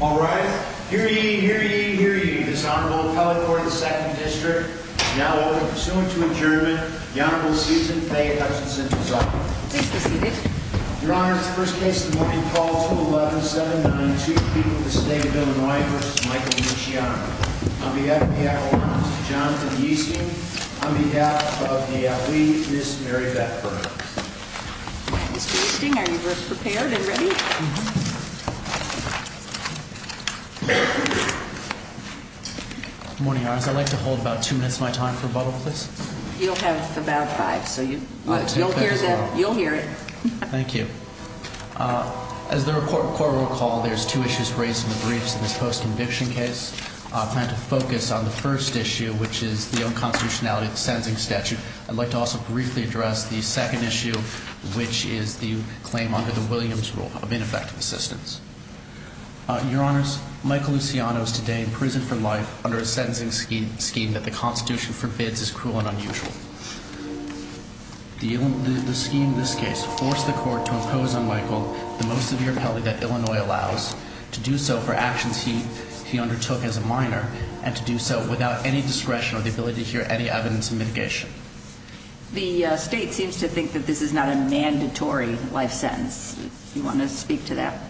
All right. Hear ye, hear ye, hear ye. This honorable appellate for the 2nd District is now open. Pursuant to adjournment, the Honorable Susan Faye Hutchinson is honored. Please be seated. Your Honor, this is the first case of the morning. Call to 11-792. People of the State of Illinois v. Michael Luciano. On behalf of the Avalanche, Jonathan Easting. On behalf of the Allee, Ms. Mary Beth Burns. Mr. Easting, are you both prepared and ready? Mm-hmm. Good morning, Your Honors. I'd like to hold about two minutes of my time for rebuttal, please. You'll have about five, so you'll hear it. Thank you. As the Court will recall, there's two issues raised in the briefs in this post-conviction case. I plan to focus on the first issue, which is the unconstitutionality of the sentencing statute. I'd like to also briefly address the second issue, which is the claim under the Williams rule of ineffective assistance. Your Honors, Michael Luciano is today in prison for life under a sentencing scheme that the Constitution forbids is cruel and unusual. The scheme in this case forced the Court to impose on Michael the most severe penalty that Illinois allows, to do so for actions he undertook as a minor, and to do so without any discretion or the ability to hear any evidence of mitigation. The State seems to think that this is not a mandatory life sentence. Do you want to speak to that?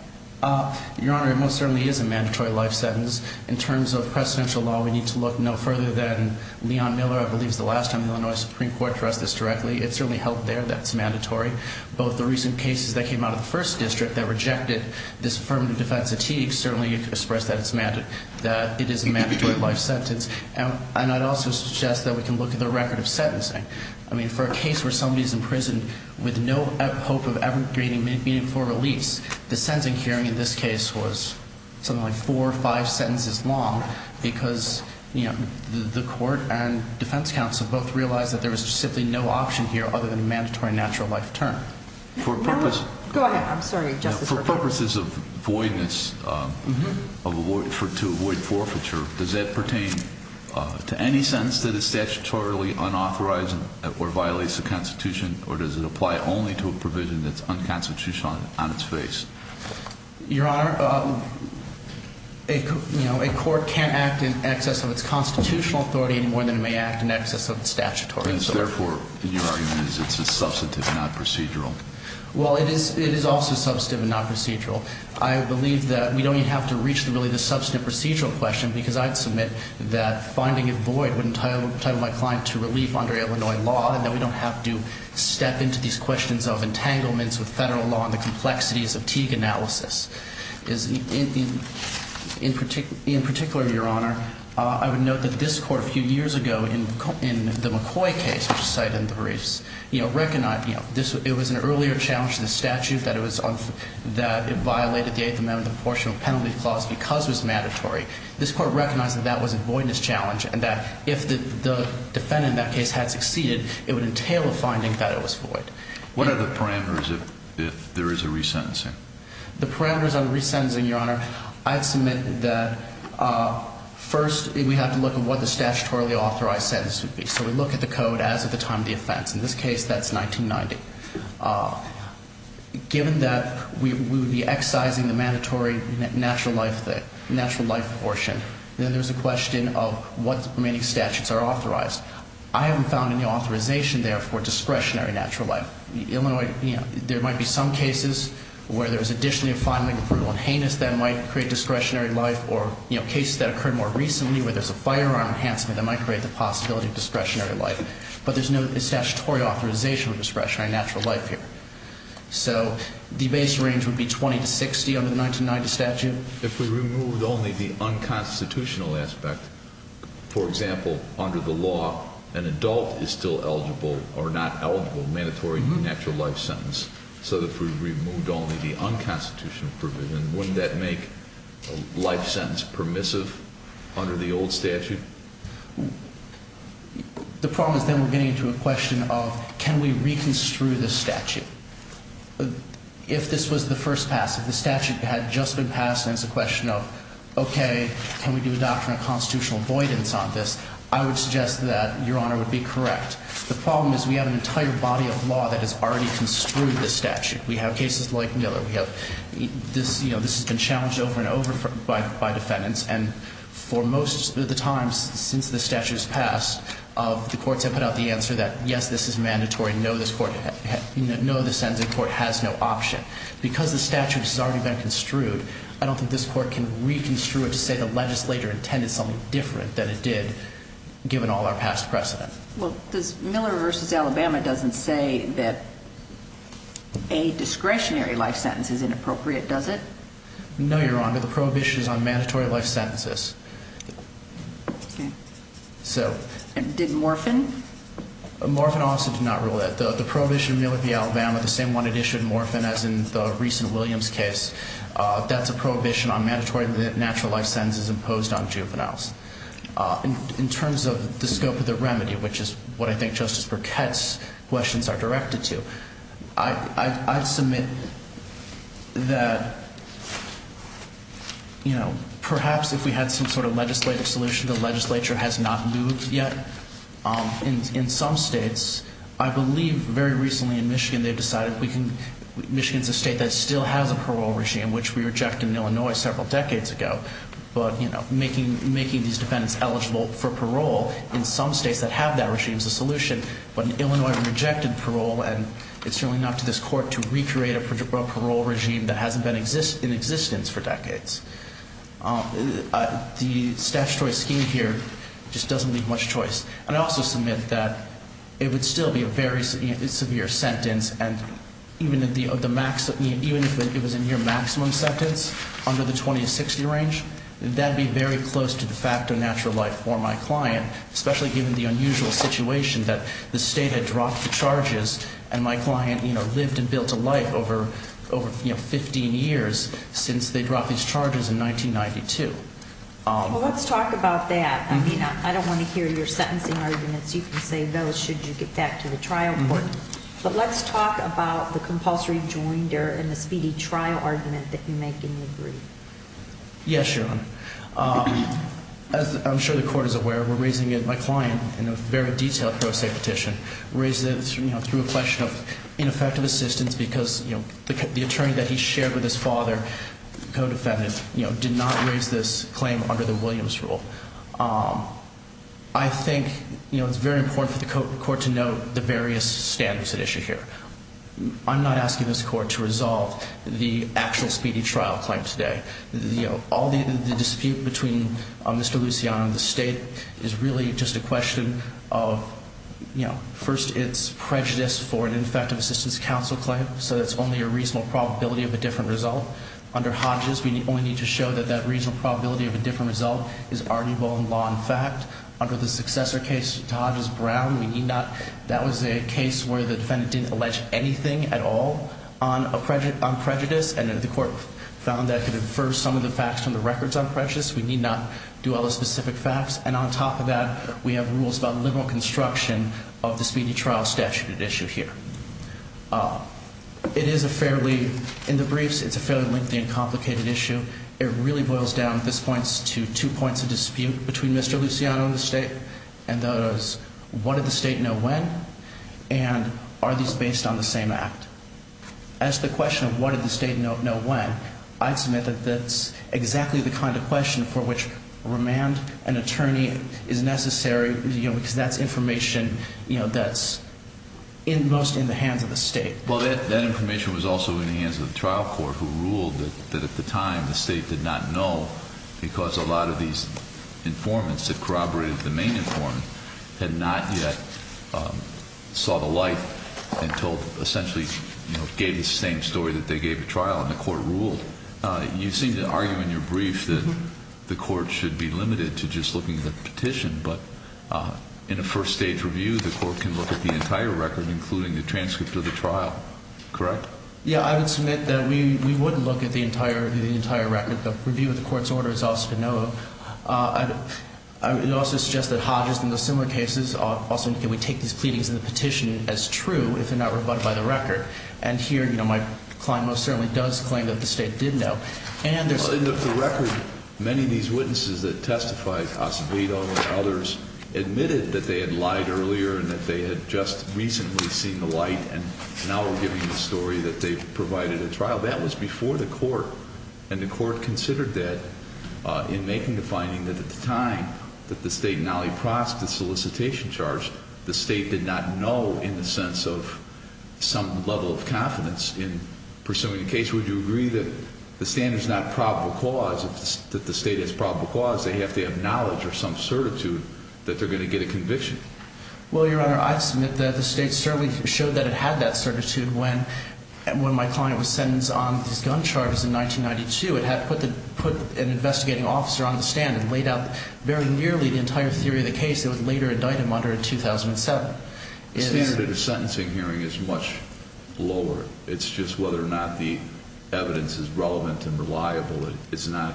Your Honor, it most certainly is a mandatory life sentence. In terms of precedential law, we need to look no further than Leon Miller. I believe it's the last time the Illinois Supreme Court addressed this directly. It certainly held there that it's mandatory. Both the recent cases that came out of the First District that rejected this affirmative defense statute certainly expressed that it is a mandatory life sentence. And I'd also suggest that we can look at the record of sentencing. I mean, for a case where somebody's in prison with no hope of ever getting meaningful release, the sentencing hearing in this case was something like four or five sentences long because, you know, the Court and defense counsel both realized that there was simply no option here other than a mandatory natural life term. For purposes of voidness, to avoid forfeiture, does that pertain to any sentence that is statutorily unauthorized or violates the Constitution, or does it apply only to a provision that's unconstitutional on its face? Your Honor, a court can't act in excess of its constitutional authority more than it may act in excess of its statutory authority. Therefore, your argument is it's a substantive, not procedural. Well, it is also substantive and not procedural. I believe that we don't even have to reach really the substantive procedural question because I'd submit that finding it void would entitle my client to relief under Illinois law and that we don't have to step into these questions of entanglements with federal law and the complexities of Teague analysis. In particular, your Honor, I would note that this Court a few years ago, in the McCoy case, which was cited in the briefs, recognized it was an earlier challenge to the statute that it violated the Eighth Amendment Proportional Penalty Clause because it was mandatory. This Court recognized that that was a voidness challenge and that if the defendant in that case had succeeded, it would entail a finding that it was void. What are the parameters if there is a resentencing? The parameters on resentencing, your Honor, I'd submit that first we have to look at what the statutorily authorized sentence would be. So we look at the code as of the time of the offense. In this case, that's 1990. Given that we would be excising the mandatory natural life portion, then there's a question of what remaining statutes are authorized. I haven't found any authorization there for discretionary natural life. There might be some cases where there's additionally a fine, brutal, and heinous that might create discretionary life or cases that occurred more recently where there's a firearm enhancement that might create the possibility of discretionary life. But there's no statutory authorization of discretionary natural life here. So the base range would be 20 to 60 under the 1990 statute. If we removed only the unconstitutional aspect, for example, under the law, an adult is still eligible or not eligible, mandatory natural life sentence. So if we removed only the unconstitutional provision, wouldn't that make a life sentence permissive under the old statute? The problem is then we're getting into a question of can we reconstrue the statute? If this was the first pass, if the statute had just been passed and it's a question of, okay, can we do a doctrine of constitutional avoidance on this, I would suggest that Your Honor would be correct. The problem is we have an entire body of law that has already construed the statute. We have cases like Miller. We have this, you know, this has been challenged over and over by defendants. And for most of the times since the statute has passed, the courts have put out the answer that, yes, this is mandatory, no, this court has no option. Because the statute has already been construed, I don't think this court can reconstruct it to say the legislator intended something different than it did, given all our past precedent. Well, Miller v. Alabama doesn't say that a discretionary life sentence is inappropriate, does it? No, Your Honor. The prohibition is on mandatory life sentences. Did Morphin? Morphin also did not rule that. The prohibition of Miller v. Alabama, the same one that issued Morphin as in the recent Williams case, that's a prohibition on mandatory natural life sentences imposed on juveniles. In terms of the scope of the remedy, which is what I think Justice Burkett's questions are directed to, I'd submit that, you know, perhaps if we had some sort of legislative solution, the legislature has not moved yet. In some states, I believe very recently in Michigan they've decided we can, Michigan's a state that still has a parole regime, which we rejected in Illinois several decades ago. But, you know, making these defendants eligible for parole in some states that have that regime is a solution. But in Illinois we rejected parole, and it's certainly not to this Court to recreate a parole regime that hasn't been in existence for decades. The statutory scheme here just doesn't leave much choice. And I also submit that it would still be a very severe sentence, and even if it was a near maximum sentence under the 20 to 60 range, that would be very close to de facto natural life for my client, especially given the unusual situation that the state had dropped the charges, and my client, you know, lived and built a life over, you know, 15 years since they dropped these charges in 1992. Well, let's talk about that. I mean, I don't want to hear your sentencing arguments. You can say those should you get back to the trial court. But let's talk about the compulsory joinder and the speedy trial argument that you make in the brief. Yes, Your Honor. As I'm sure the Court is aware, we're raising it, my client, in a very detailed pro se petition, raised it, you know, through a question of ineffective assistance because, you know, the attorney that he shared with his father, the co-defendant, you know, did not raise this claim under the Williams rule. I think, you know, it's very important for the Court to note the various standards at issue here. I'm not asking this Court to resolve the actual speedy trial claim today. You know, all the dispute between Mr. Luciano and the state is really just a question of, you know, first, it's prejudice for an ineffective assistance counsel claim, so that's only a reasonable probability of a different result. Under Hodges, we only need to show that that reasonable probability of a different result is arguable in law and fact. Under the successor case to Hodges-Brown, we need not, that was a case where the defendant didn't allege anything at all on prejudice and the Court found that it could infer some of the facts from the records on prejudice. We need not do all the specific facts. And on top of that, we have rules about liberal construction of the speedy trial statute at issue here. It is a fairly, in the briefs, it's a fairly lengthy and complicated issue. It really boils down, at this point, to two points of dispute between Mr. Luciano and the state, and that is, what did the state know when, and are these based on the same act? As to the question of what did the state know when, I'd submit that that's exactly the kind of question for which remand, an attorney, is necessary, you know, because that's information, you know, that's most in the hands of the state. Well, that information was also in the hands of the trial court, who ruled that at the time the state did not know because a lot of these informants that corroborated the main informant had not yet saw the light and told, essentially, you know, gave the same story that they gave the trial, and the Court ruled. You seem to argue in your brief that the Court should be limited to just looking at the petition, but in a first-stage review, the Court can look at the entire record, including the transcript of the trial. Correct? Yeah, I would submit that we wouldn't look at the entire review, the entire record. The review of the Court's order is also to know. It also suggests that Hodges and the similar cases also indicate we take these pleadings in the petition as true if they're not rebutted by the record, and here, you know, my client most certainly does claim that the state did know. And in the record, many of these witnesses that testified, Acevedo and others, admitted that they had lied earlier and that they had just recently seen the light and now were giving the story that they provided a trial. That was before the Court, and the Court considered that in making the finding that at the time that the state and Ali Prask, the solicitation charge, the state did not know in the sense of some level of confidence in pursuing a case. Would you agree that the standard's not probable cause, that the state has probable cause? They have to have knowledge or some certitude that they're going to get a conviction. Well, Your Honor, I'd submit that the state certainly showed that it had that certitude when my client was sentenced on these gun charges in 1992. It had put an investigating officer on the stand and laid out very nearly the entire theory of the case that would later indict him under a 2007. The standard of the sentencing hearing is much lower. It's just whether or not the evidence is relevant and reliable. It's not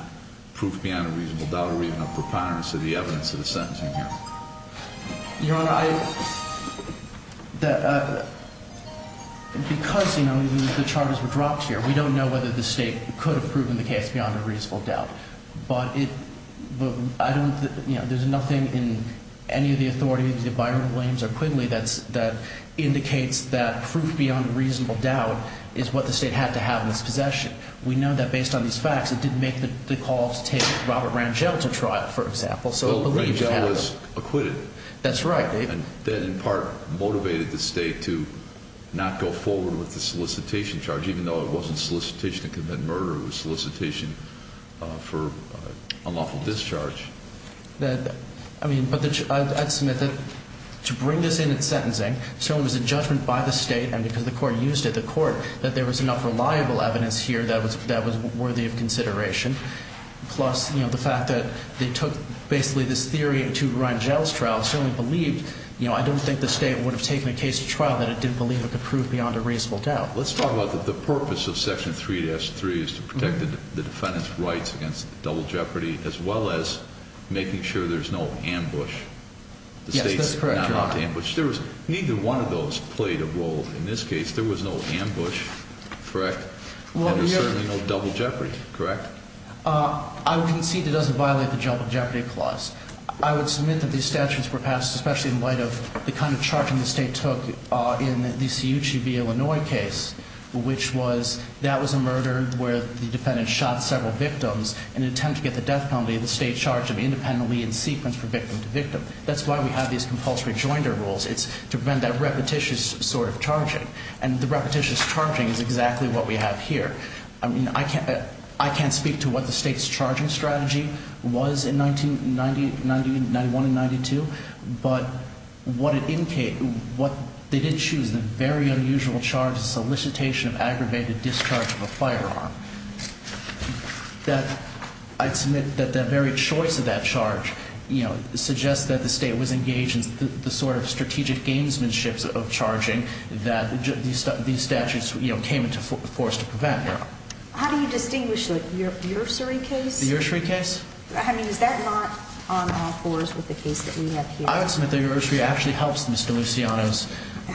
proof beyond a reasonable doubt or even a preponderance of the evidence of the sentencing hearing. Your Honor, I – because, you know, the charges were dropped here, we don't know whether the state could have proven the case beyond a reasonable doubt. But it – I don't – you know, there's nothing in any of the authorities that Byron Williams or Quigley that's – that indicates that proof beyond a reasonable doubt is what the state had to have in its possession. We know that based on these facts, it didn't make the call to take Robert Rangel to trial, for example. So it believes – Well, Rangel was acquitted. That's right. And that, in part, motivated the state to not go forward with the solicitation charge, even though it wasn't solicitation to commit murder. It was solicitation for unlawful discharge. That – I mean, but the – I'd submit that to bring this in at sentencing, so it was a judgment by the state and because the court used it, the court, that there was enough reliable evidence here that was worthy of consideration. Plus, you know, the fact that they took basically this theory to Rangel's trial certainly believed – you know, I don't think the state would have taken a case to trial that it didn't believe it could prove beyond a reasonable doubt. Let's talk about the purpose of Section 3-3 is to protect the defendant's rights against double jeopardy as well as making sure there's no ambush. Yes, that's correct. The state's not allowed to ambush. There was – neither one of those played a role in this case. There was no ambush, correct, and there's certainly no double jeopardy, correct? I would concede it doesn't violate the double jeopardy clause. I would submit that these statutes were passed especially in light of the kind of charging the state took in the C.U.C.B. Illinois case, which was that was a murder where the defendant shot several victims in an attempt to get the death penalty. The state charged them independently in sequence from victim to victim. That's why we have these compulsory joinder rules. It's to prevent that repetitious sort of charging, and the repetitious charging is exactly what we have here. I mean, I can't speak to what the state's charging strategy was in 1991 and 1992, but what it – they did choose the very unusual charge of solicitation of aggravated discharge of a firearm. That – I'd submit that the very choice of that charge, you know, suggests that the state was engaged in the sort of strategic gamesmanships of charging that these statutes, you know, came into force to prevent. How do you distinguish the Ursary case? The Ursary case? I mean, is that not on all fours with the case that we have here? I would submit that the Ursary actually helps Mr. Luciano's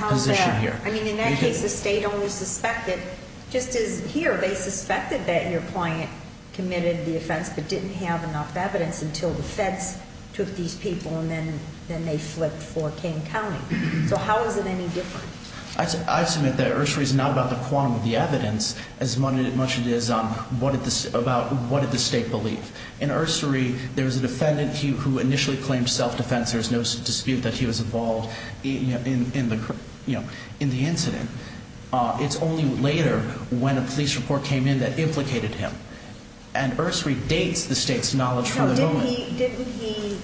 position here. How is that? I mean, in that case the state only suspected – just as here they suspected that your client committed the offense but didn't have enough evidence until the feds took these people and then they flipped for King County. So how is it any different? I'd submit that Ursary's not about the quantum of the evidence as much as it is about what did the state believe. In Ursary, there was a defendant who initially claimed self-defense. There's no dispute that he was involved in the, you know, in the incident. It's only later when a police report came in that implicated him, and Ursary dates the state's knowledge for the moment. Didn't he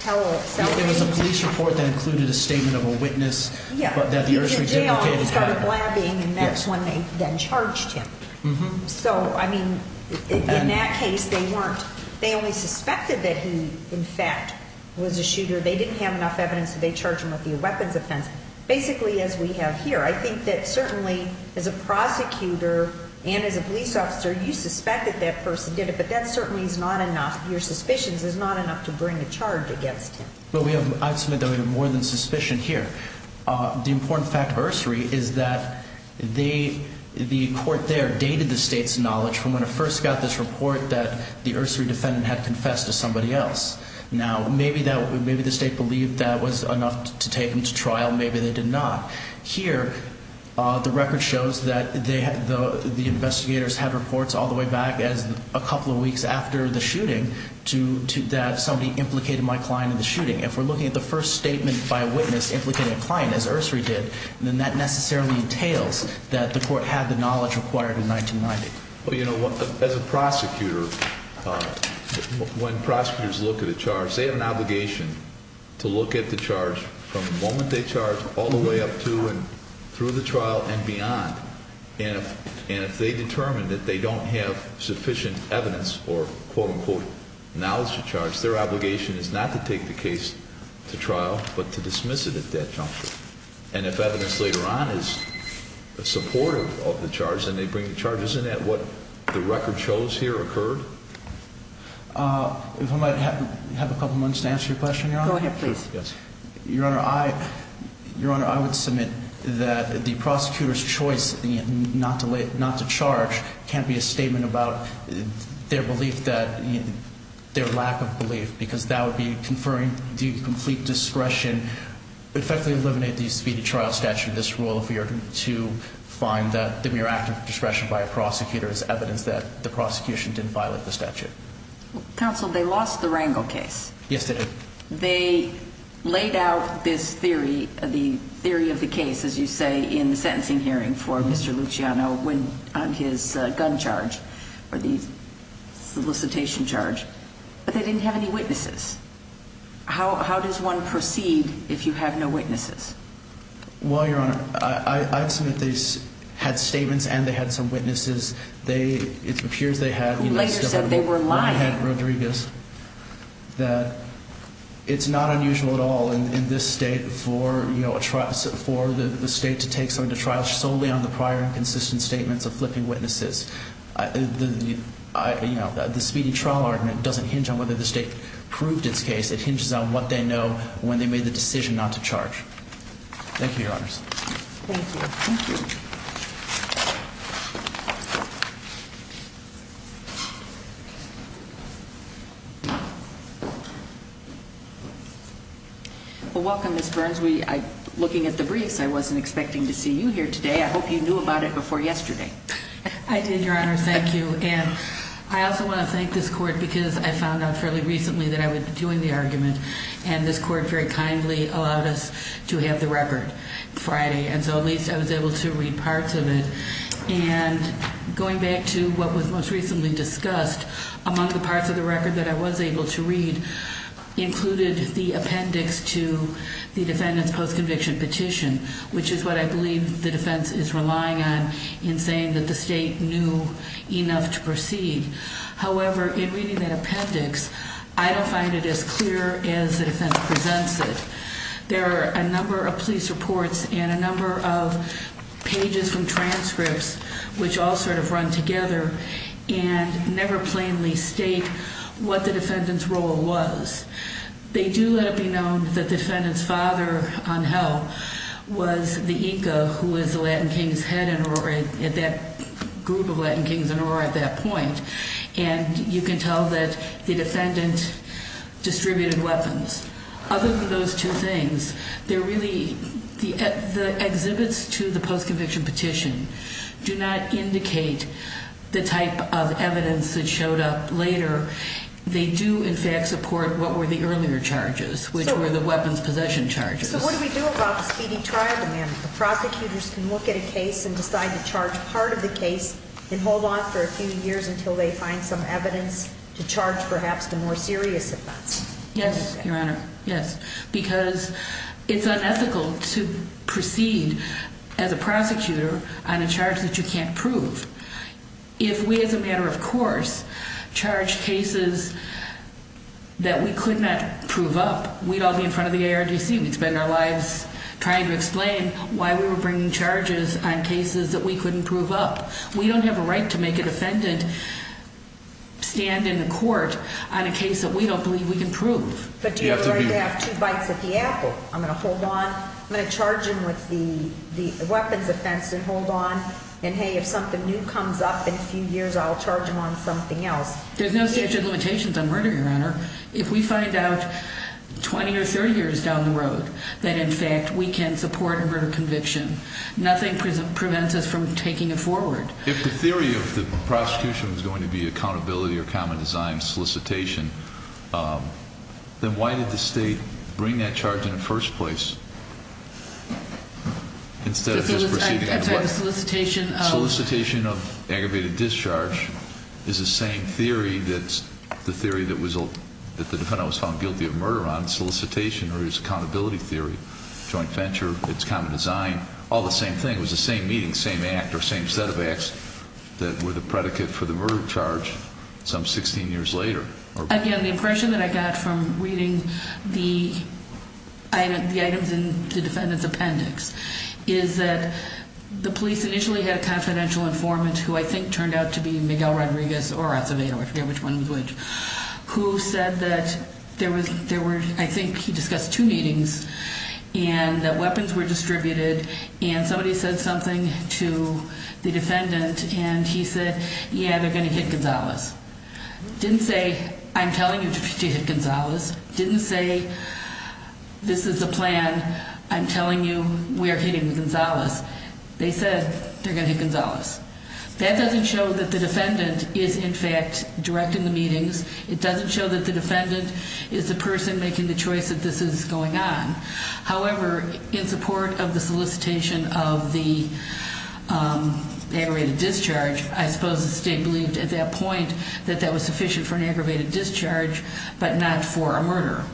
tell self-defense? There was a police report that included a statement of a witness that the Ursary did indicate. He was in jail and he started blabbing, and that's when they then charged him. So, I mean, in that case they weren't – they only suspected that he, in fact, was a shooter. They didn't have enough evidence, so they charged him with the weapons offense, basically as we have here. I think that certainly as a prosecutor and as a police officer, you suspect that that person did it, but that certainly is not enough. Your suspicions is not enough to bring a charge against him. Well, we have more than suspicion here. The important fact of Ursary is that the court there dated the state's knowledge from when it first got this report that the Ursary defendant had confessed to somebody else. Now, maybe the state believed that was enough to take him to trial. Maybe they did not. Here, the record shows that the investigators had reports all the way back as a couple of weeks after the shooting that somebody implicated my client in the shooting. If we're looking at the first statement by a witness implicating a client, as Ursary did, then that necessarily entails that the court had the knowledge required in 1990. Well, you know, as a prosecutor, when prosecutors look at a charge, they have an obligation to look at the charge from the moment they charge all the way up to and through the trial and beyond. And if they determine that they don't have sufficient evidence or, quote, unquote, knowledge to charge, their obligation is not to take the case to trial but to dismiss it at that juncture. And if evidence later on is supportive of the charge and they bring the charges in at what the record shows here occurred? If I might have a couple of moments to answer your question, Your Honor. Go ahead, please. Yes. Your Honor, I would submit that the prosecutor's choice not to charge can't be a statement about their lack of belief because that would be conferring the complete discretion, effectively eliminate the speedy trial statute in this rule if we are to find that the mere act of discretion by a prosecutor is evidence that the prosecution didn't violate the statute. Counsel, they lost the Rangel case. Yes, they did. They laid out this theory, the theory of the case, as you say, in the sentencing hearing for Mr. Luciano on his gun charge or the solicitation charge. But they didn't have any witnesses. How does one proceed if you have no witnesses? Well, Your Honor, I submit they had statements and they had some witnesses. They – it appears they had – Who later said they were lying. Rodriguez. That it's not unusual at all in this state for, you know, for the state to take something to trial solely on the prior and consistent statements of flipping witnesses. You know, the speedy trial argument doesn't hinge on whether the state proved its case. It hinges on what they know when they made the decision not to charge. Thank you, Your Honors. Thank you. Thank you. Well, welcome, Ms. Burns. We – looking at the briefs, I wasn't expecting to see you here today. I hope you knew about it before yesterday. I did, Your Honor. Thank you. And I also want to thank this court because I found out fairly recently that I would be doing the argument. And this court very kindly allowed us to have the record Friday. And so at least I was able to read parts of it. And going back to what was most recently discussed, among the parts of the record that I was able to read included the appendix to the defendant's post-conviction petition, which is what I believe the defense is relying on in saying that the state knew enough to proceed. However, in reading that appendix, I don't find it as clear as the defense presents it. There are a number of police reports and a number of pages from transcripts which all sort of run together and never plainly state what the defendant's role was. They do let it be known that the defendant's father on hell was the Inca who was the Latin King's head in Aurora at that – group of Latin Kings in Aurora at that point. And you can tell that the defendant distributed weapons. Other than those two things, there really – the exhibits to the post-conviction petition do not indicate the type of evidence that showed up later. They do, in fact, support what were the earlier charges, which were the weapons possession charges. So what do we do about the speedy trial demand? The prosecutors can look at a case and decide to charge part of the case and hold on for a few years until they find some evidence to charge perhaps the more serious offense. Yes, Your Honor. Yes. Because it's unethical to proceed as a prosecutor on a charge that you can't prove. If we as a matter of course charged cases that we could not prove up, we'd all be in front of the ARDC. We'd spend our lives trying to explain why we were bringing charges on cases that we couldn't prove up. We don't have a right to make a defendant stand in court on a case that we don't believe we can prove. But do you have the right to have two bites at the apple? I'm going to hold on. I'm going to charge him with the weapons offense and hold on. And, hey, if something new comes up in a few years, I'll charge him on something else. There's no statute of limitations on murder, Your Honor. If we find out 20 or 30 years down the road that, in fact, we can support a murder conviction, nothing prevents us from taking it forward. If the theory of the prosecution was going to be accountability or common design solicitation, then why did the State bring that charge in the first place instead of just proceeding? I'm sorry, the solicitation of? Solicitation of aggravated discharge is the same theory that the defendant was found guilty of murder on, solicitation, or his accountability theory. Joint venture, it's common design, all the same thing. It was the same meeting, same act or same set of acts that were the predicate for the murder charge some 16 years later. Again, the impression that I got from reading the items in the defendant's appendix is that the police initially had a confidential informant, who I think turned out to be Miguel Rodriguez or Acevedo, I forget which one was which, who said that there were, I think he discussed two meetings, and that weapons were distributed, and somebody said something to the defendant, and he said, yeah, they're going to hit Gonzalez. Didn't say, I'm telling you to hit Gonzalez. Didn't say, this is the plan, I'm telling you we are hitting Gonzalez. That doesn't show that the defendant is in fact directing the meetings. It doesn't show that the defendant is the person making the choice that this is going on. However, in support of the solicitation of the aggravated discharge, I suppose the state believed at that point that that was sufficient for an aggravated discharge, but not for a murder.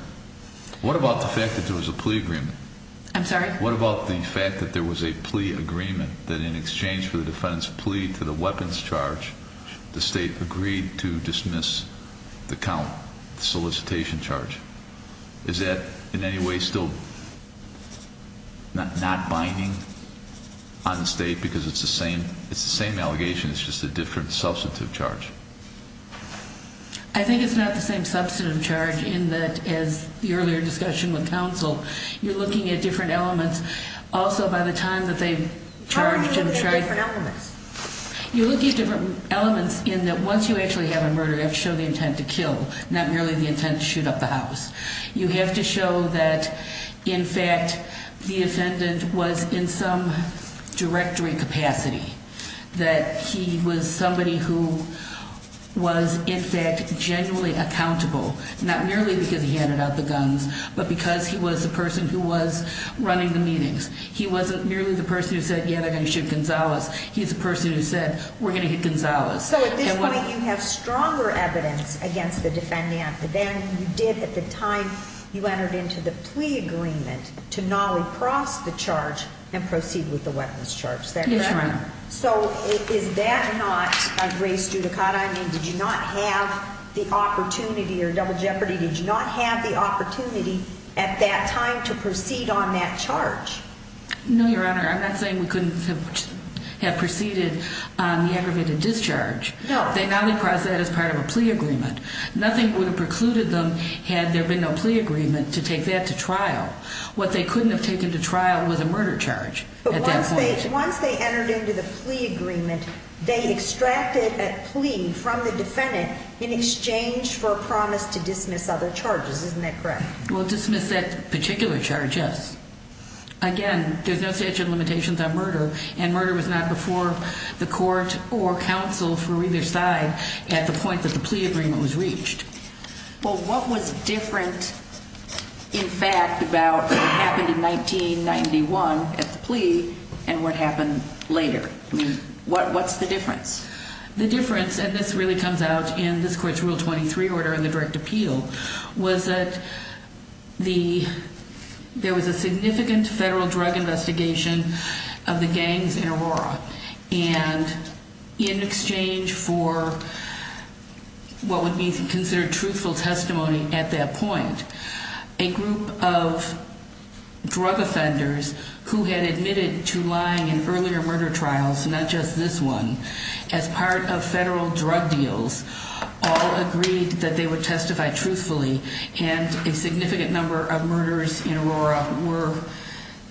What about the fact that there was a plea agreement? I'm sorry? There was a plea to the weapons charge. The state agreed to dismiss the count, the solicitation charge. Is that in any way still not binding on the state because it's the same allegation, it's just a different substantive charge? I think it's not the same substantive charge in that, as the earlier discussion with counsel, you're looking at different elements also by the time that they charged him. How are you looking at different elements? You're looking at different elements in that once you actually have a murder, you have to show the intent to kill, not merely the intent to shoot up the house. You have to show that, in fact, the defendant was in some directory capacity, that he was somebody who was, in fact, genuinely accountable, not merely because he handed out the guns, but because he was the person who was running the meetings. He wasn't merely the person who said, yeah, they're going to shoot Gonzales. He's the person who said, we're going to hit Gonzales. So at this point, you have stronger evidence against the defendant than you did at the time you entered into the plea agreement to nolly-cross the charge and proceed with the weapons charge. Is that correct? Yes, Your Honor. So is that not a gray studicata? I mean, did you not have the opportunity, or Double Jeopardy, did you not have the opportunity at that time to proceed on that charge? No, Your Honor. I'm not saying we couldn't have proceeded on the aggravated discharge. No. They nolly-crossed that as part of a plea agreement. Nothing would have precluded them had there been no plea agreement to take that to trial. What they couldn't have taken to trial was a murder charge at that time. Once they entered into the plea agreement, they extracted a plea from the defendant in exchange for a promise to dismiss other charges. Isn't that correct? Well, dismiss that particular charge, yes. Again, there's no statute of limitations on murder, and murder was not before the court or counsel for either side at the point that the plea agreement was reached. Well, what was different, in fact, about what happened in 1991 at the plea and what happened later? I mean, what's the difference? The difference, and this really comes out in this court's Rule 23 order in the direct appeal, was that there was a significant federal drug investigation of the gangs in Aurora. And in exchange for what would be considered truthful testimony at that point, a group of drug offenders who had admitted to lying in earlier murder trials, not just this one, as part of federal drug deals all agreed that they would testify truthfully. And a significant number of murders in Aurora were,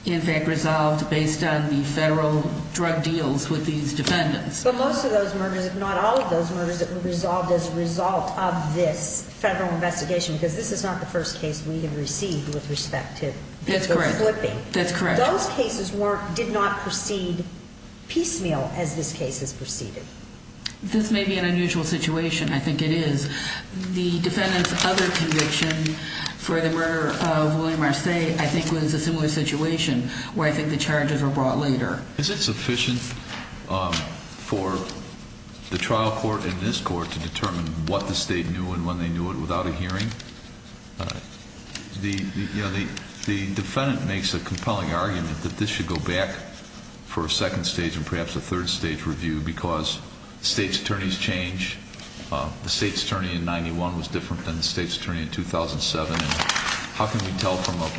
in fact, resolved based on the federal drug deals with these defendants. But most of those murders, if not all of those murders, were resolved as a result of this federal investigation, because this is not the first case we have received with respect to people flipping. That's correct. Those cases did not proceed piecemeal as this case has proceeded. This may be an unusual situation. I think it is. The defendant's other conviction for the murder of William R. Say I think was a similar situation where I think the charges were brought later. Is it sufficient for the trial court in this court to determine what the state knew and when they knew it without a hearing? The defendant makes a compelling argument that this should go back for a second stage and perhaps a third stage review because the state's attorneys change. The state's attorney in 1991 was different than the state's attorney in 2007. How can we tell from a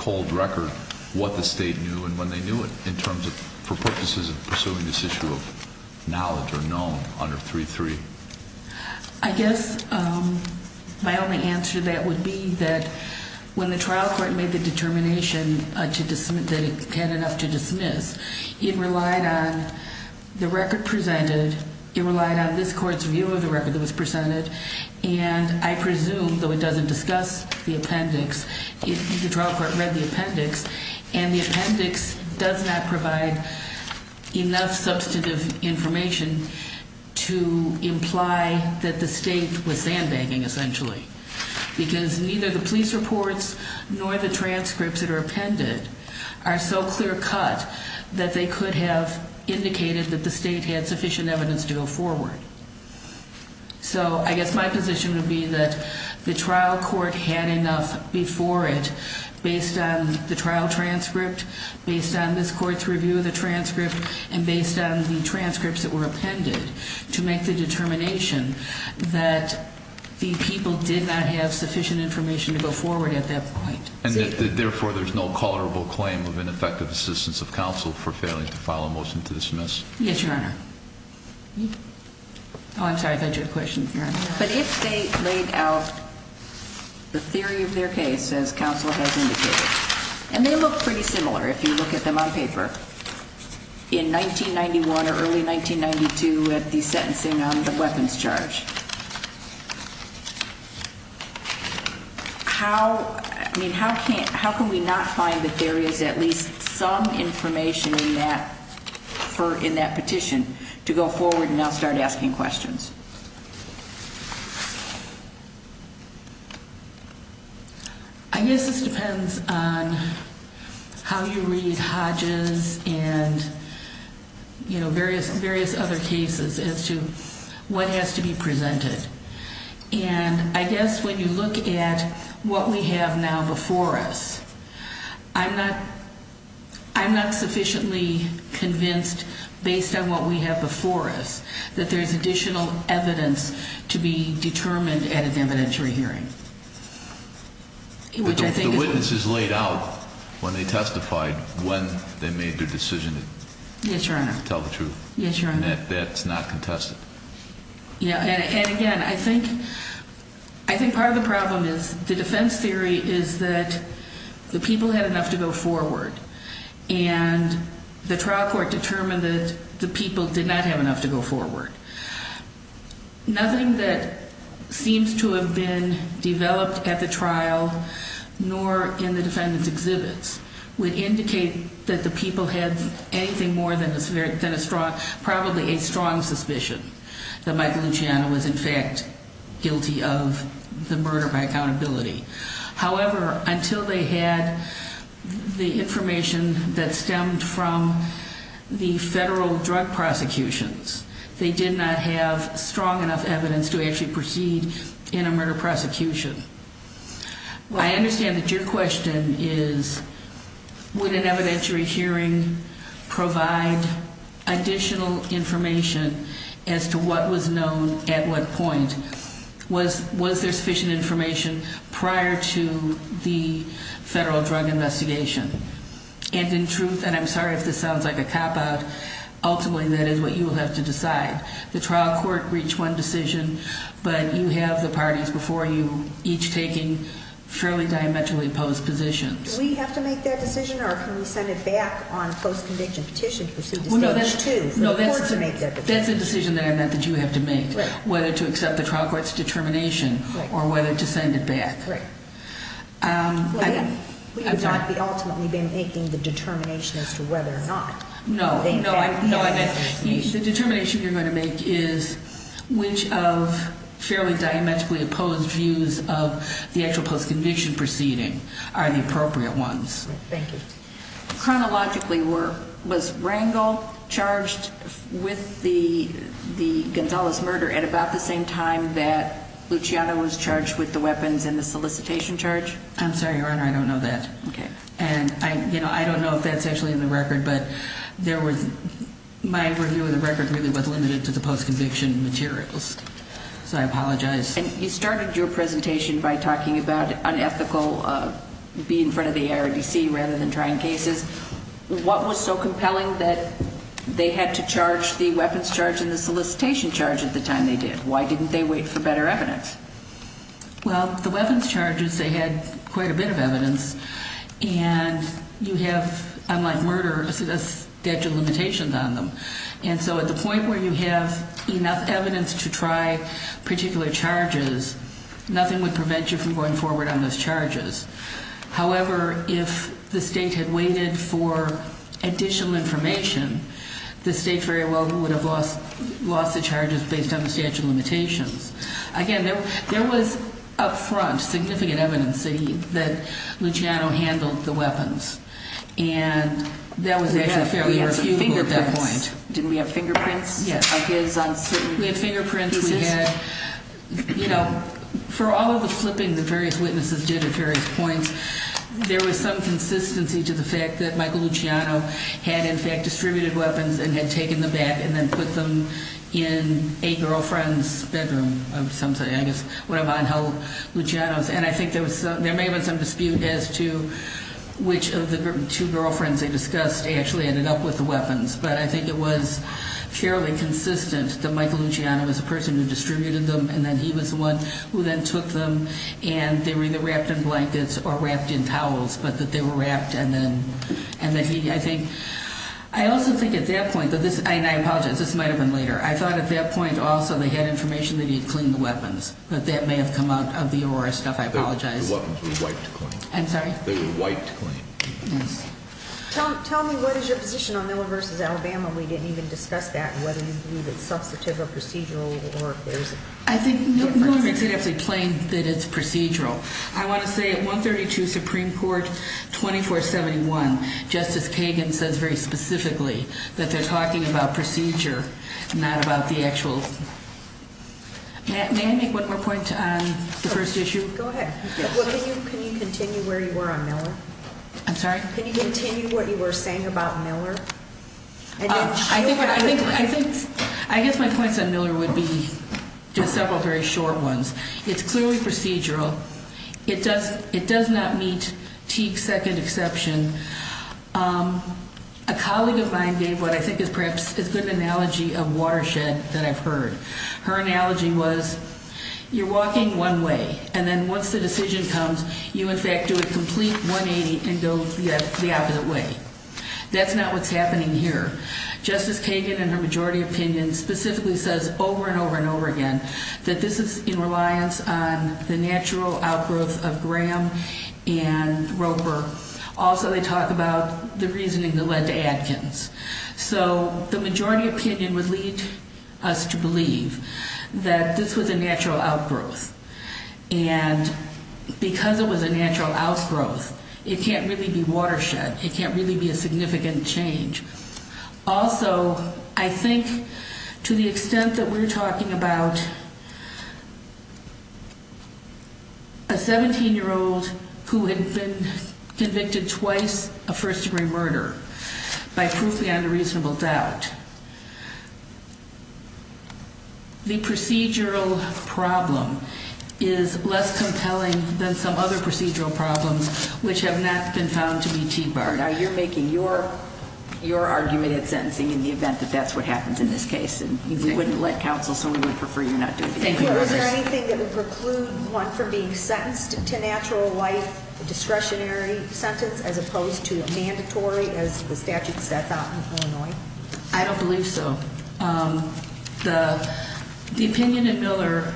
cold record what the state knew and when they knew it for purposes of pursuing this issue of knowledge or known under 3.3? I guess my only answer to that would be that when the trial court made the determination that it had enough to dismiss, it relied on the record presented, it relied on this court's view of the record that was presented, and I presume, though it doesn't discuss the appendix, the trial court read the appendix and the appendix does not provide enough substantive information to imply that the state was sandbagging essentially because neither the police reports nor the transcripts that are appended are so clear cut that they could have indicated that the state had sufficient evidence to go forward. So I guess my position would be that the trial court had enough before it based on the trial transcript, based on this court's review of the transcript, and based on the transcripts that were appended to make the determination that the people did not have sufficient information to go forward at that point. And therefore there's no colorable claim of ineffective assistance of counsel for failing to file a motion to dismiss? Yes, Your Honor. Oh, I'm sorry, I thought you had a question, Your Honor. But if they laid out the theory of their case as counsel has indicated, and they look pretty similar if you look at them on paper, in 1991 or early 1992 at the sentencing on the weapons charge, how can we not find that there is at least some information in that petition to go forward and now start asking questions? I guess this depends on how you read Hodges and various other cases as to what has to be presented. And I guess when you look at what we have now before us, I'm not sufficiently convinced based on what we have before us that there's additional evidence to be determined at an evidentiary hearing. But the witnesses laid out when they testified when they made their decision to tell the truth. Yes, Your Honor. And that's not contested. And again, I think part of the problem is the defense theory is that the people had enough to go forward, and the trial court determined that the people did not have enough to go forward. Nothing that seems to have been developed at the trial, nor in the defendant's exhibits, would indicate that the people had anything more than probably a strong suspicion that Michael Luciano was in fact guilty of the murder by accountability. However, until they had the information that stemmed from the federal drug prosecutions, they did not have strong enough evidence to actually proceed in a murder prosecution. I understand that your question is, would an evidentiary hearing provide additional information as to what was known at what point? Was there sufficient information prior to the federal drug investigation? And in truth, and I'm sorry if this sounds like a cop-out, ultimately that is what you will have to decide. The trial court reached one decision, but you have the parties before you each taking fairly diametrically opposed positions. Do we have to make that decision, or can we send it back on a post-conviction petition to proceed to stage two? No, that's a decision that I meant that you have to make, whether to accept the trial court's determination or whether to send it back. We would not be ultimately making the determination as to whether or not. No, the determination you're going to make is which of fairly diametrically opposed views of the actual post-conviction proceeding are the appropriate ones. Thank you. Chronologically, was Rangel charged with the Gonzales murder at about the same time that Luciano was charged with the weapons and the solicitation charge? I'm sorry, Your Honor, I don't know that. Okay. And I don't know if that's actually in the record, but my review of the record really was limited to the post-conviction materials, so I apologize. And you started your presentation by talking about unethical, be in front of the IRDC rather than trying cases. What was so compelling that they had to charge the weapons charge and the solicitation charge at the time they did? Why didn't they wait for better evidence? Well, the weapons charges, they had quite a bit of evidence, and you have, unlike murder, a statute of limitations on them. And so at the point where you have enough evidence to try particular charges, nothing would prevent you from going forward on those charges. However, if the state had waited for additional information, the state very well would have lost the charges based on the statute of limitations. Again, there was up front significant evidence that Luciano handled the weapons. And that was actually fairly reasonable at that point. Didn't we have fingerprints of his on certain pieces? We had fingerprints. We had, you know, for all of the flipping that various witnesses did at various points, there was some consistency to the fact that Michael Luciano had in fact distributed weapons and had taken them back and then put them in a girlfriend's bedroom of some sort, I guess, when Ivan held Luciano's. And I think there may have been some dispute as to which of the two girlfriends they discussed actually ended up with the weapons. But I think it was fairly consistent that Michael Luciano was the person who distributed them and that he was the one who then took them and they were either wrapped in blankets or wrapped in towels, but that they were wrapped and then he, I think. I also think at that point, and I apologize, this might have been later, I thought at that point also they had information that he had cleaned the weapons, but that may have come out of the Aurora stuff. I apologize. The weapons were wiped clean. I'm sorry? They were wiped clean. Yes. Tell me what is your position on Miller v. Alabama? We didn't even discuss that and whether you believe it's substantive or procedural or if there's a difference. I think Miller makes it absolutely plain that it's procedural. I want to say at 132 Supreme Court 2471, Justice Kagan says very specifically that they're talking about procedure, not about the actual. May I make one more point on the first issue? Go ahead. Can you continue where you were on Miller? I'm sorry? Can you continue what you were saying about Miller? I think my points on Miller would be just several very short ones. It's clearly procedural. It does not meet Teague's second exception. A colleague of mine gave what I think is perhaps as good an analogy of watershed that I've heard. Her analogy was you're walking one way, and then once the decision comes, you in fact do a complete 180 and go the opposite way. That's not what's happening here. Justice Kagan in her majority opinion specifically says over and over and over again that this is in reliance on the natural outgrowth of Graham and Roper. Also, they talk about the reasoning that led to Adkins. So the majority opinion would lead us to believe that this was a natural outgrowth. And because it was a natural outgrowth, it can't really be watershed. It can't really be a significant change. Also, I think to the extent that we're talking about a 17-year-old who had been convicted twice of first-degree murder by proof beyond a reasonable doubt, the procedural problem is less compelling than some other procedural problems which have not been found to be Teague-barred. Now, you're making your argument at sentencing in the event that that's what happens in this case. And we wouldn't let counsel, so we would prefer you not do it. Thank you. Is there anything that would preclude one from being sentenced to natural life discretionary sentence as opposed to mandatory, as the statute sets out in Illinois? I don't believe so. The opinion at Miller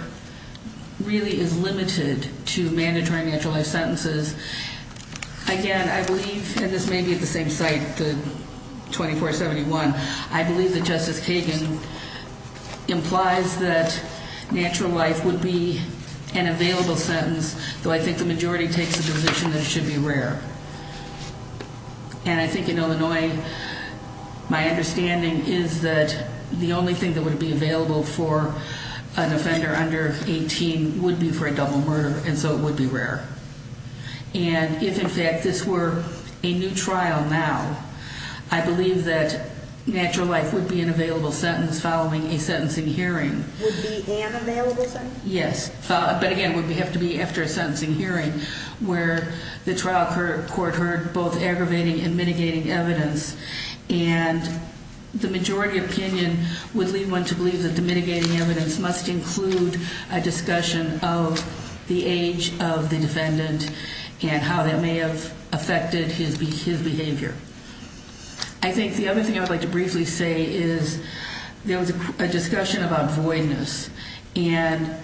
really is limited to mandatory natural life sentences. Again, I believe, and this may be at the same site, the 2471, I believe that Justice Kagan implies that natural life would be an available sentence, though I think the majority takes the position that it should be rare. And I think in Illinois, my understanding is that the only thing that would be available for an offender under 18 would be for a double murder, and so it would be rare. And if, in fact, this were a new trial now, I believe that natural life would be an available sentence following a sentencing hearing. Would be an available sentence? Yes. But again, it would have to be after a sentencing hearing where the trial court heard both aggravating and mitigating evidence. And the majority opinion would lead one to believe that the mitigating evidence must include a discussion of the age of the defendant and how that may have affected his behavior. I think the other thing I would like to briefly say is there was a discussion about voidness, and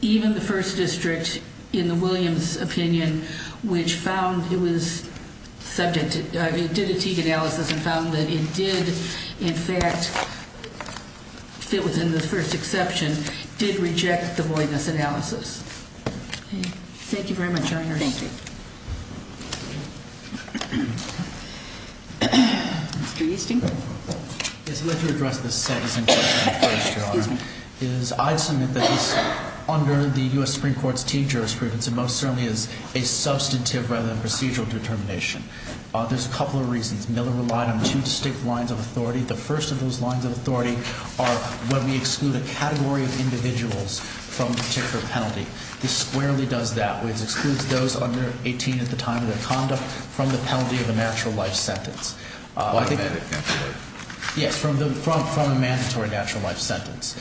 even the first district, in the Williams opinion, which found it was subject to, did a Teague analysis and found that it did, in fact, if it was in the first exception, did reject the voidness analysis. Thank you very much, Your Honor. Thank you. Mr. Easton? Yes, I'd like to address the sentencing question first, Your Honor. I'd submit that under the U.S. Supreme Court's Teague jurisprudence, it most certainly is a substantive rather than procedural determination. There's a couple of reasons. Miller relied on two distinct lines of authority. The first of those lines of authority are when we exclude a category of individuals from a particular penalty. This squarely does that. It excludes those under 18 at the time of their conduct from the penalty of a natural life sentence. From a mandatory natural life sentence? Yes, from a mandatory natural life sentence,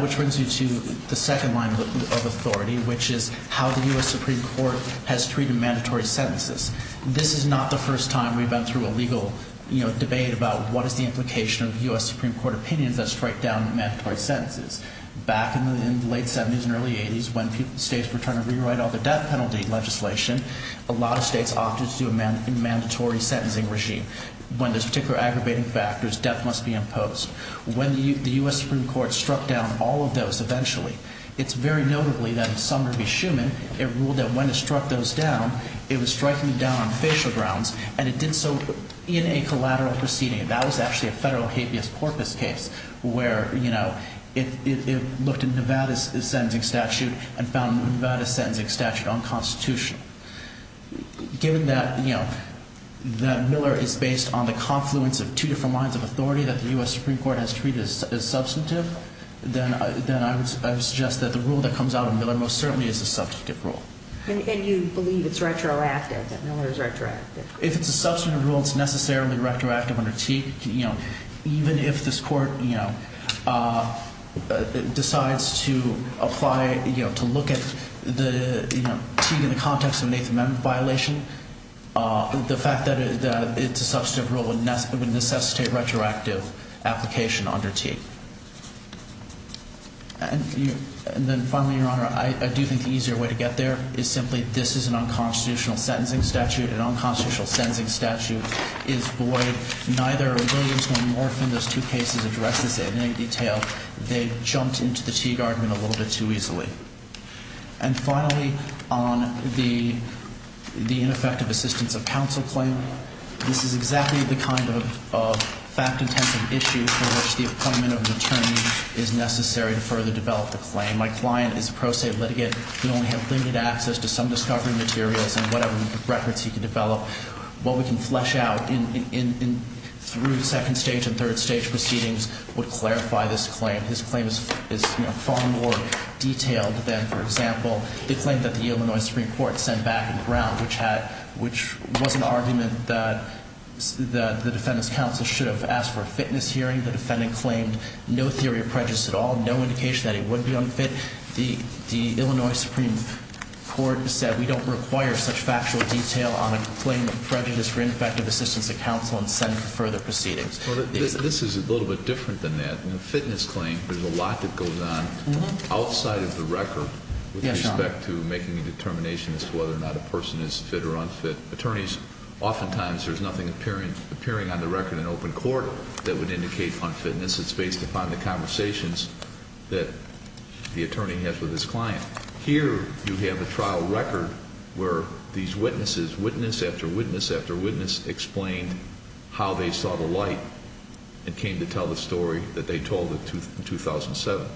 which brings me to the second line of authority, which is how the U.S. Supreme Court has treated mandatory sentences. This is not the first time we've been through a legal debate about what is the implication of U.S. Supreme Court opinions that strike down mandatory sentences. Back in the late 70s and early 80s, when states were trying to rewrite all the death penalty legislation, a lot of states opted to do a mandatory sentencing regime. When there's particular aggravating factors, death must be imposed. When the U.S. Supreme Court struck down all of those eventually, it's very notably that in Sumner v. Schuman, it ruled that when it struck those down, it was striking them down on facial grounds, and it did so in a collateral proceeding. That was actually a federal habeas corpus case where it looked at Nevada's sentencing statute and found Nevada's sentencing statute unconstitutional. Given that Miller is based on the confluence of two different lines of authority that the U.S. Supreme Court has treated as substantive, then I would suggest that the rule that comes out of Miller most certainly is a substantive rule. And you believe it's retroactive, that Miller is retroactive? If it's a substantive rule, it's necessarily retroactive under Teague. Even if this court decides to look at Teague in the context of an Eighth Amendment violation, the fact that it's a substantive rule would necessitate retroactive application under Teague. And then finally, Your Honor, I do think the easier way to get there is simply this is an unconstitutional sentencing statute. An unconstitutional sentencing statute is void. Neither Williams nor Morphin, those two cases address this in any detail. They jumped into the Teague argument a little bit too easily. And finally, on the ineffective assistance of counsel claim, this is exactly the kind of fact-intensive issue for which the appointment of an attorney is necessary to further develop the claim. My client is a pro se litigant. He only had limited access to some discovery materials and whatever records he could develop. What we can flesh out through second stage and third stage proceedings would clarify this claim. His claim is far more detailed than, for example, the claim that the Illinois Supreme Court sent back in Brown, which was an argument that the defendant's counsel should have asked for a fitness hearing. The defendant claimed no theory of prejudice at all, no indication that he would be unfit. The Illinois Supreme Court said we don't require such factual detail on a claim of prejudice for ineffective assistance of counsel in sending for further proceedings. This is a little bit different than that. In a fitness claim, there's a lot that goes on outside of the record with respect to making a determination as to whether or not a person is fit or unfit. Attorneys, oftentimes there's nothing appearing on the record in open court that would indicate unfitness. It's based upon the conversations that the attorney has with his client. Here you have a trial record where these witnesses, witness after witness after witness, explained how they saw the light and came to tell the story that they told in 2007.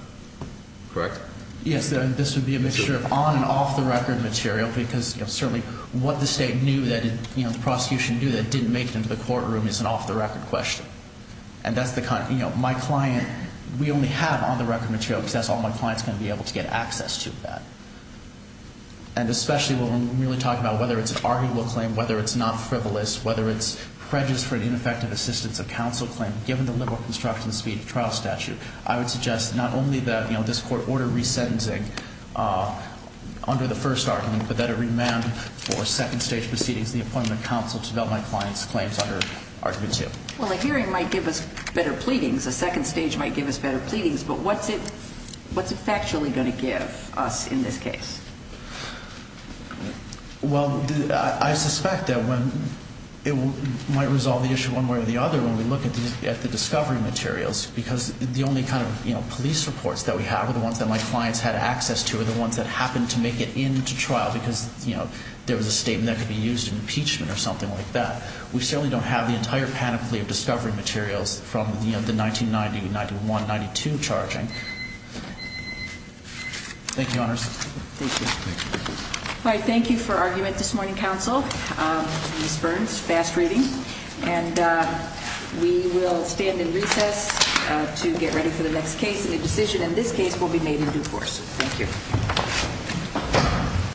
Correct? Yes. This would be a mixture of on and off the record material because certainly what the state knew that, you know, the prosecution knew that didn't make it into the courtroom is an off the record question. And that's the kind of, you know, my client, we only have on the record material because that's all my client's going to be able to get access to that. And especially when we're really talking about whether it's an arguable claim, whether it's not frivolous, whether it's prejudice for ineffective assistance of counsel claim, given the liberal construction speed of trial statute, I would suggest not only that, you know, this court order resentencing under the first argument, but that it remand for second stage proceedings, the appointment of counsel to develop my client's claims under argument two. Well, a hearing might give us better pleadings. A second stage might give us better pleadings. But what's it factually going to give us in this case? Well, I suspect that when it might resolve the issue one way or the other when we look at the discovery materials because the only kind of, you know, police reports that we have are the ones that my clients had access to or the ones that happened to make it into trial because, you know, there was a statement that could be used in impeachment or something like that. We certainly don't have the entire panoply of discovery materials from, you know, the 1990, 91, 92 charging. Thank you, honors. Thank you. All right. Thank you for argument this morning, counsel. Ms. Burns, fast reading. And we will stand in recess to get ready for the next case and the decision in this case will be made in due course. Thank you.